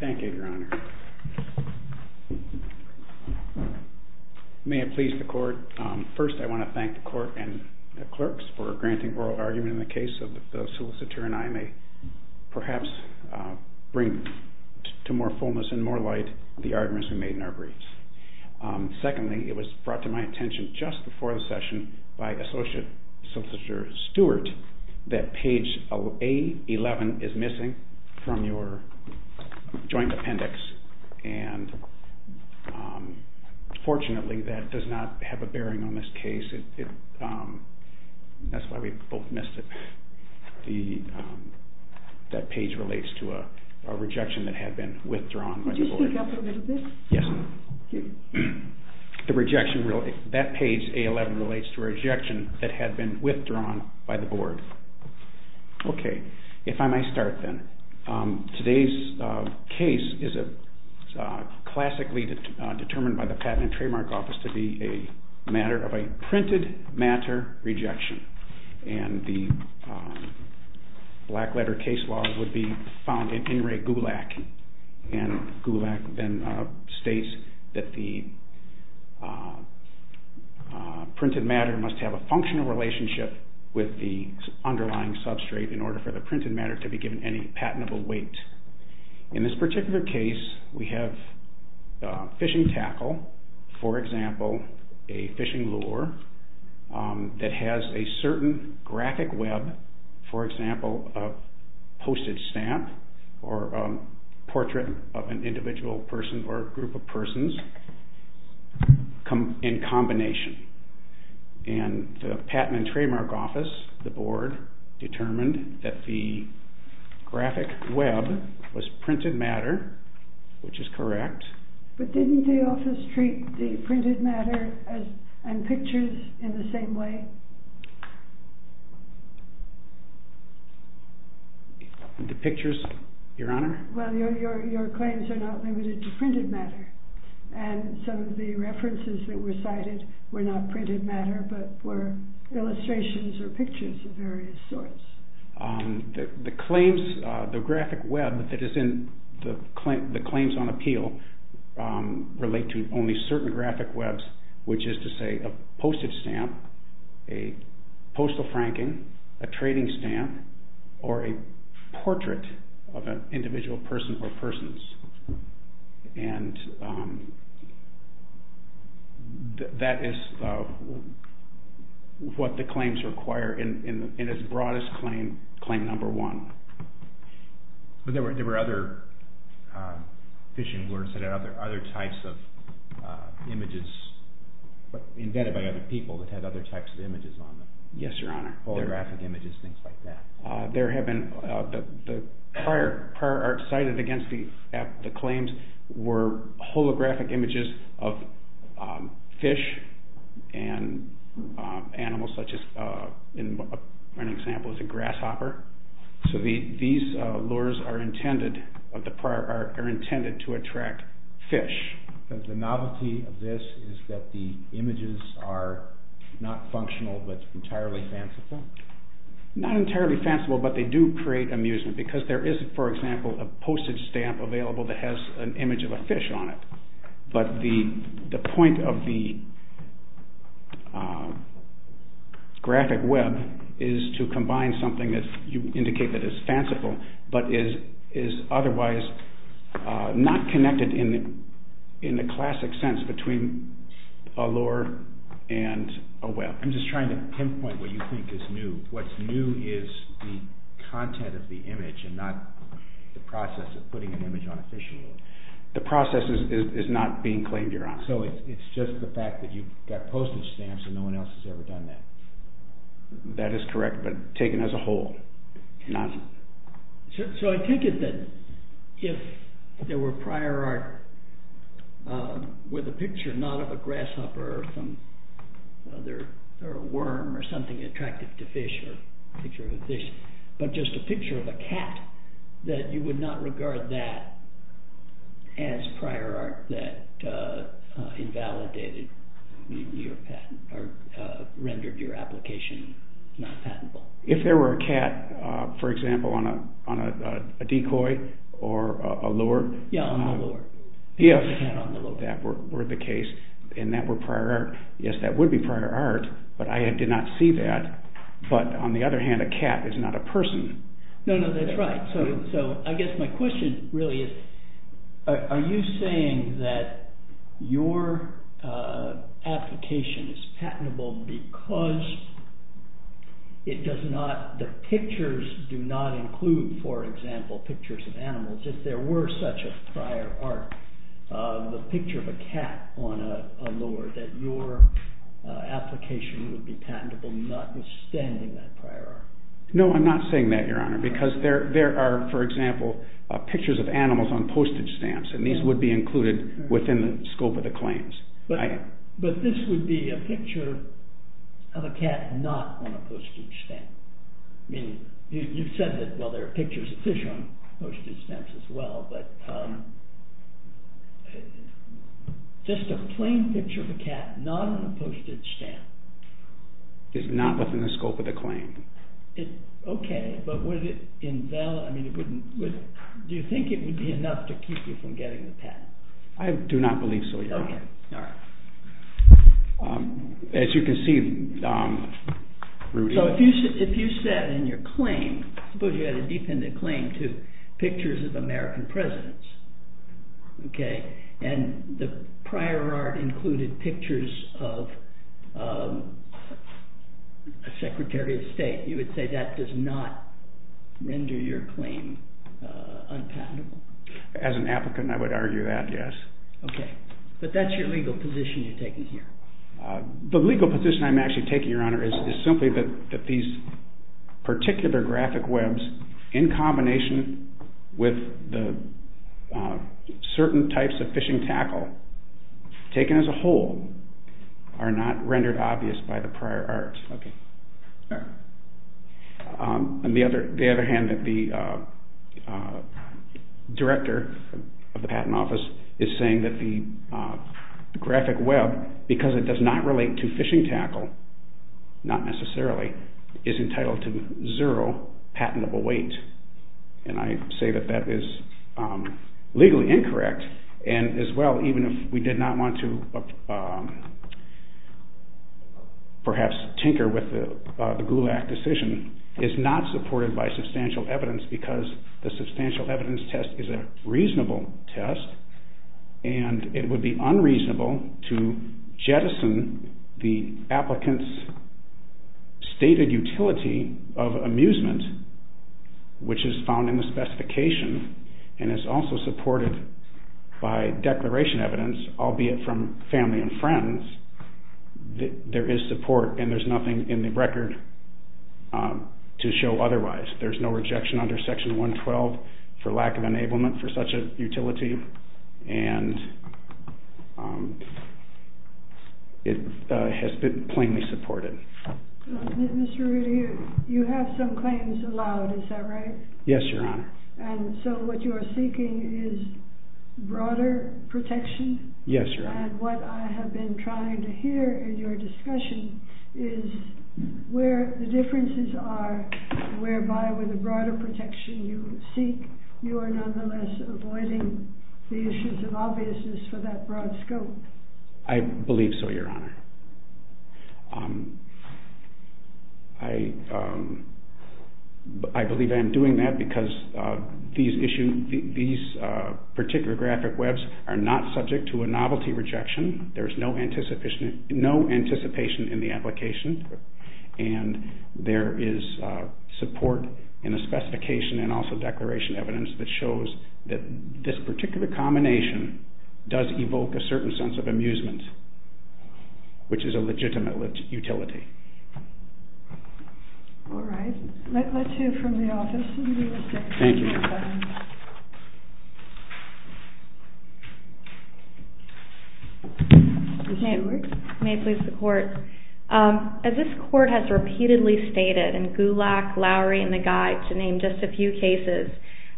Thank you, Your Honor. May it please the court. First, I want to thank all of you for coming today. I want to thank the court and the clerks for granting oral argument in the case of the solicitor and I may perhaps bring to more fullness and more light the arguments we made in our briefs. Secondly, it was brought to my attention just before the session by Associate Solicitor Stewart that page A11 is missing from your joint appendix. And fortunately that does not have a bearing on this case. That's why we both missed it. That page relates to a rejection that had been withdrawn by the board. Okay, if I may start then. Today's case is classically determined by the Patent and Trademark Office to be a matter of a printed matter rejection. And the black letter case law would be found in In Re GULAC and GULAC then states that the printed matter must have a functional relationship with the underlying substrate in order for the printed matter to be given any patentable weight. In this particular case, we have fishing tackle, for example, a fishing lure that has a certain graphic web, for example, a postage stamp or a portrait of an individual person or group of persons in combination. And the Patent and Trademark Office, the board, determined that the graphic web was printed matter, which is correct. But didn't the office treat the printed matter and pictures in the same way? The pictures, your honor? Well, your claims are not limited to printed matter. And some of the references that were cited were not printed matter but were illustrations or pictures of various sorts. The claims, the graphic web that is in the claims on appeal relate to only certain graphic webs, which is to say a postage stamp, a postal franking, a trading stamp, or a portrait of an individual person or persons. And that is what the claims require in its broadest claim, claim number one. But there were other fishing lures that had other types of images invented by other people that had other types of images on them. Yes, your honor. Holographic images, things like that. The prior art cited against the claims were holographic images of fish and animals such as, an example is a grasshopper. So these lures are intended to attract fish. The novelty of this is that the images are not functional but entirely fanciful? Not entirely fanciful but they do create amusement because there is, for example, a postage stamp available that has an image of a fish on it. But the point of the graphic web is to combine something that you indicate that is fanciful but is otherwise not connected in the classic sense between a lure and a web. I'm just trying to pinpoint what you think is new. What's new is the content of the image and not the process of putting an image on a fishing lure. The process is not being claimed, your honor. So it's just the fact that you've got postage stamps and no one else has ever done that? That is correct but taken as a whole. So I take it that if there were prior art with a picture not of a grasshopper or a worm or something attractive to fish, but just a picture of a cat, that you would not regard that as prior art that invalidated your patent or rendered your application not patentable? If there were a cat, for example, on a decoy or a lure, if that were the case and that were prior art, yes, that would be prior art but I did not see that. But on the other hand, a cat is not a person. No, no, that's right. So I guess my question really is, are you saying that your application is patentable because the pictures do not include, for example, pictures of animals? If there were such a prior art, the picture of a cat on a lure, that your application would be patentable notwithstanding that prior art? No, I'm not saying that, Your Honor, because there are, for example, pictures of animals on postage stamps and these would be included within the scope of the claims. But this would be a picture of a cat not on a postage stamp. I mean, you said that, well, there are pictures of fish on postage stamps as well, but just a plain picture of a cat not on a postage stamp. Is not within the scope of the claim. Okay, but was it invalid, I mean, do you think it would be enough to keep you from getting the patent? I do not believe so, Your Honor. As you can see, Rudy. So if you said in your claim, suppose you had a defendant claim to pictures of American presidents, okay, and the prior art included pictures of a Secretary of State, you would say that does not render your claim unpatentable? As an applicant, I would argue that, yes. Okay, but that's your legal position you're taking here. The legal position I'm actually taking, Your Honor, is simply that these particular graphic webs, in combination with the certain types of fishing tackle taken as a whole, are not rendered obvious by the prior art. On the other hand, the Director of the Patent Office is saying that the graphic web, because it does not relate to fishing tackle, not necessarily, is entitled to zero patentable weight. And I say that that is legally incorrect, and as well, even if we did not want to perhaps tinker with the GULAC decision, is not supported by substantial evidence because the substantial evidence test is a reasonable test, and it would be unreasonable to jettison the applicant's stated utility of amusement, which is found in the specification, and is also supported by declaration evidence, albeit from family and friends, there is support and there's nothing in the record to show otherwise. There's no rejection under Section 112 for lack of enablement for such a utility, and it has been plainly supported. Mr. Rudy, you have some claims allowed, is that right? Yes, Your Honor. And so what you are seeking is broader protection? Yes, Your Honor. And what I have been trying to hear in your discussion is where the differences are, whereby with the broader protection you seek, you are nonetheless avoiding the issues of obviousness for that broad scope? I believe so, Your Honor. I believe I am doing that because these particular graphic webs are not subject to a novelty rejection. There is no anticipation in the application, and there is support in the specification and also declaration evidence that shows that this particular combination does evoke a certain sense of amusement. Which is a legitimate utility. All right. Let's hear from the Office of the U.S. Department of Defense. As this Court has repeatedly stated in Gulak, Lowry, and the Guide, to name just a few cases,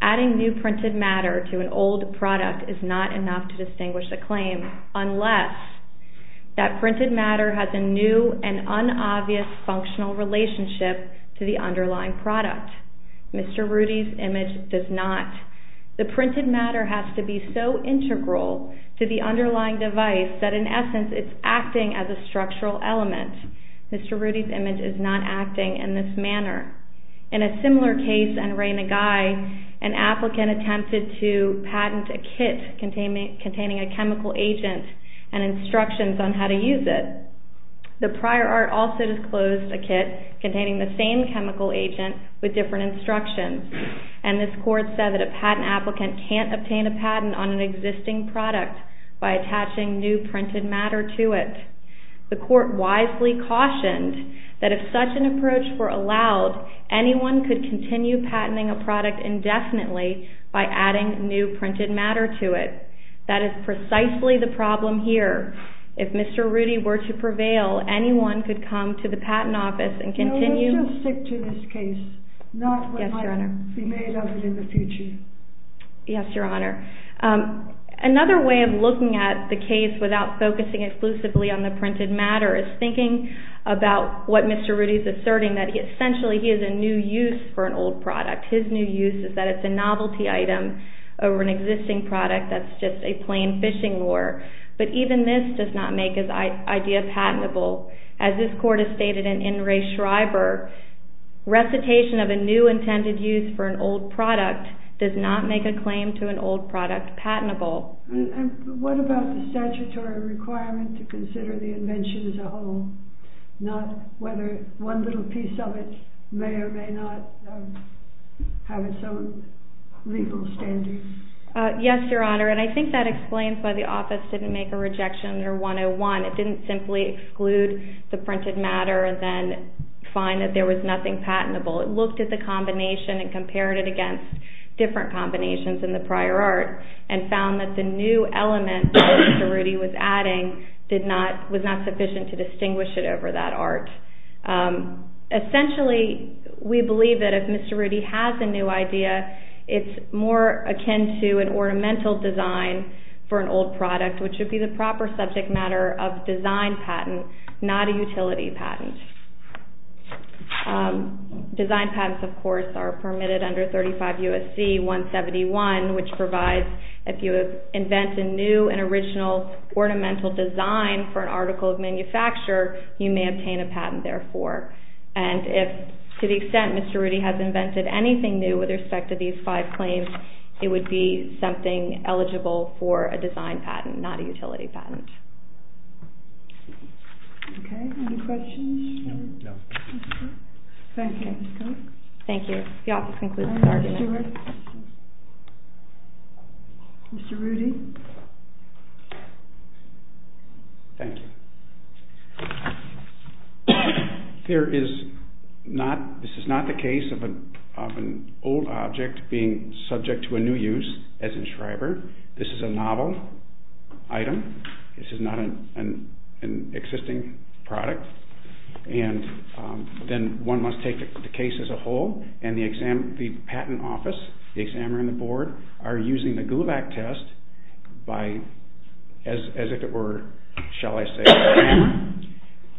adding new printed matter to an old product is not enough to distinguish the claim unless that printed matter has a new and unobvious functional relationship to the underlying product. Mr. Rudy's image does not. The printed matter has to be so integral to the underlying device that, in essence, it's acting as a structural element. Mr. Rudy's image is not acting in this manner. In a similar case on Ray Maguy, an applicant attempted to patent a kit containing a chemical agent and instructions on how to use it. The prior art also disclosed a kit containing the same chemical agent with different instructions. And this Court said that a patent applicant can't obtain a patent on an existing product by attaching new printed matter to it. The Court wisely cautioned that if such an approach were allowed, anyone could continue patenting a product indefinitely by adding new printed matter to it. That is precisely the problem here. If Mr. Rudy were to prevail, anyone could come to the Patent Office and continue… Yes, Your Honor. Yes, Your Honor. Another way of looking at the case without focusing exclusively on the printed matter is thinking about what Mr. Rudy is asserting, that essentially he is in new use for an old product. His new use is that it's a novelty item over an existing product that's just a plain fishing lure. But even this does not make his idea patentable. As this Court has stated in In Re Schreiber, recitation of a new intended use for an old product does not make a claim to an old product patentable. And what about the statutory requirement to consider the invention as a whole? Not whether one little piece of it may or may not have its own legal standards. Yes, Your Honor. And I think that explains why the Office didn't make a rejection under 101. It didn't simply exclude the printed matter and then find that there was nothing patentable. It looked at the combination and compared it against different combinations in the prior art and found that the new element that Mr. Rudy was adding was not sufficient to distinguish it over that art. Essentially, we believe that if Mr. Rudy has a new idea, it's more akin to an ornamental design for an old product, which would be the proper subject matter of design patent, not a utility patent. Design patents, of course, are permitted under 35 U.S.C. 171, which provides if you invent a new and original ornamental design for an article of manufacture, you may obtain a patent, therefore. And if, to the extent Mr. Rudy has invented anything new with respect to these five claims, it would be something eligible for a design patent, not a utility patent. Okay, any questions? No. Thank you. Thank you. The Office concludes its argument. Mr. Rudy? Thank you. This is not the case of an old object being subject to a new use, as in Schreiber. This is a novel item. This is not an existing product. And then one must take the case as a whole, and the patent office, the examiner and the board, are using the Gulevac test by, as if it were, shall I say, a hammer,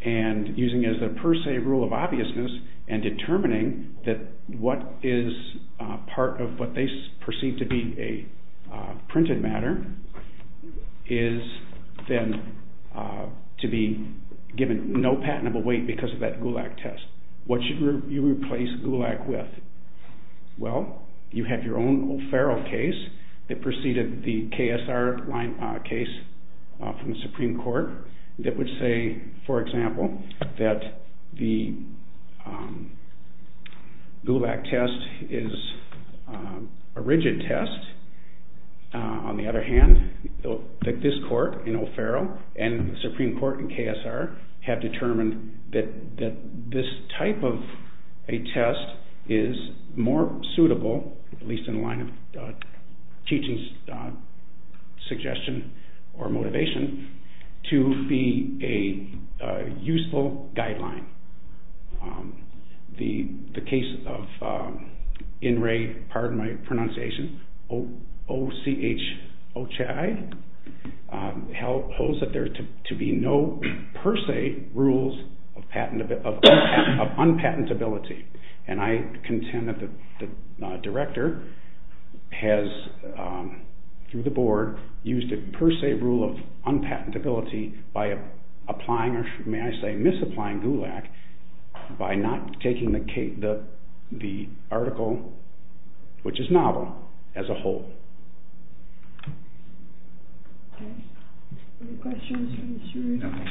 and using it as the per se rule of obviousness, and determining that what is part of what they perceive to be a printed matter is then to be given no patentable weight because of that Gulevac test. What should you replace Gulevac with? Well, you have your own O'Farrell case that preceded the KSR case from the Supreme Court that would say, for example, that the Gulevac test is a rigid test. On the other hand, this court in O'Farrell and the Supreme Court in KSR have determined that this type of a test is more suitable, at least in the line of teaching's suggestion or motivation, to be a useful guideline. The case of OCHOCHI holds that there are to be no per se rules of unpatentability. And I contend that the director has, through the board, used a per se rule of unpatentability by applying or, may I say, misapplying Gulevac by not taking the article, which is novel, as a whole. Okay. Any questions from the jury? Okay. Thank you, Mr. Rudy. And thank you, Mr. Case, for taking this submission.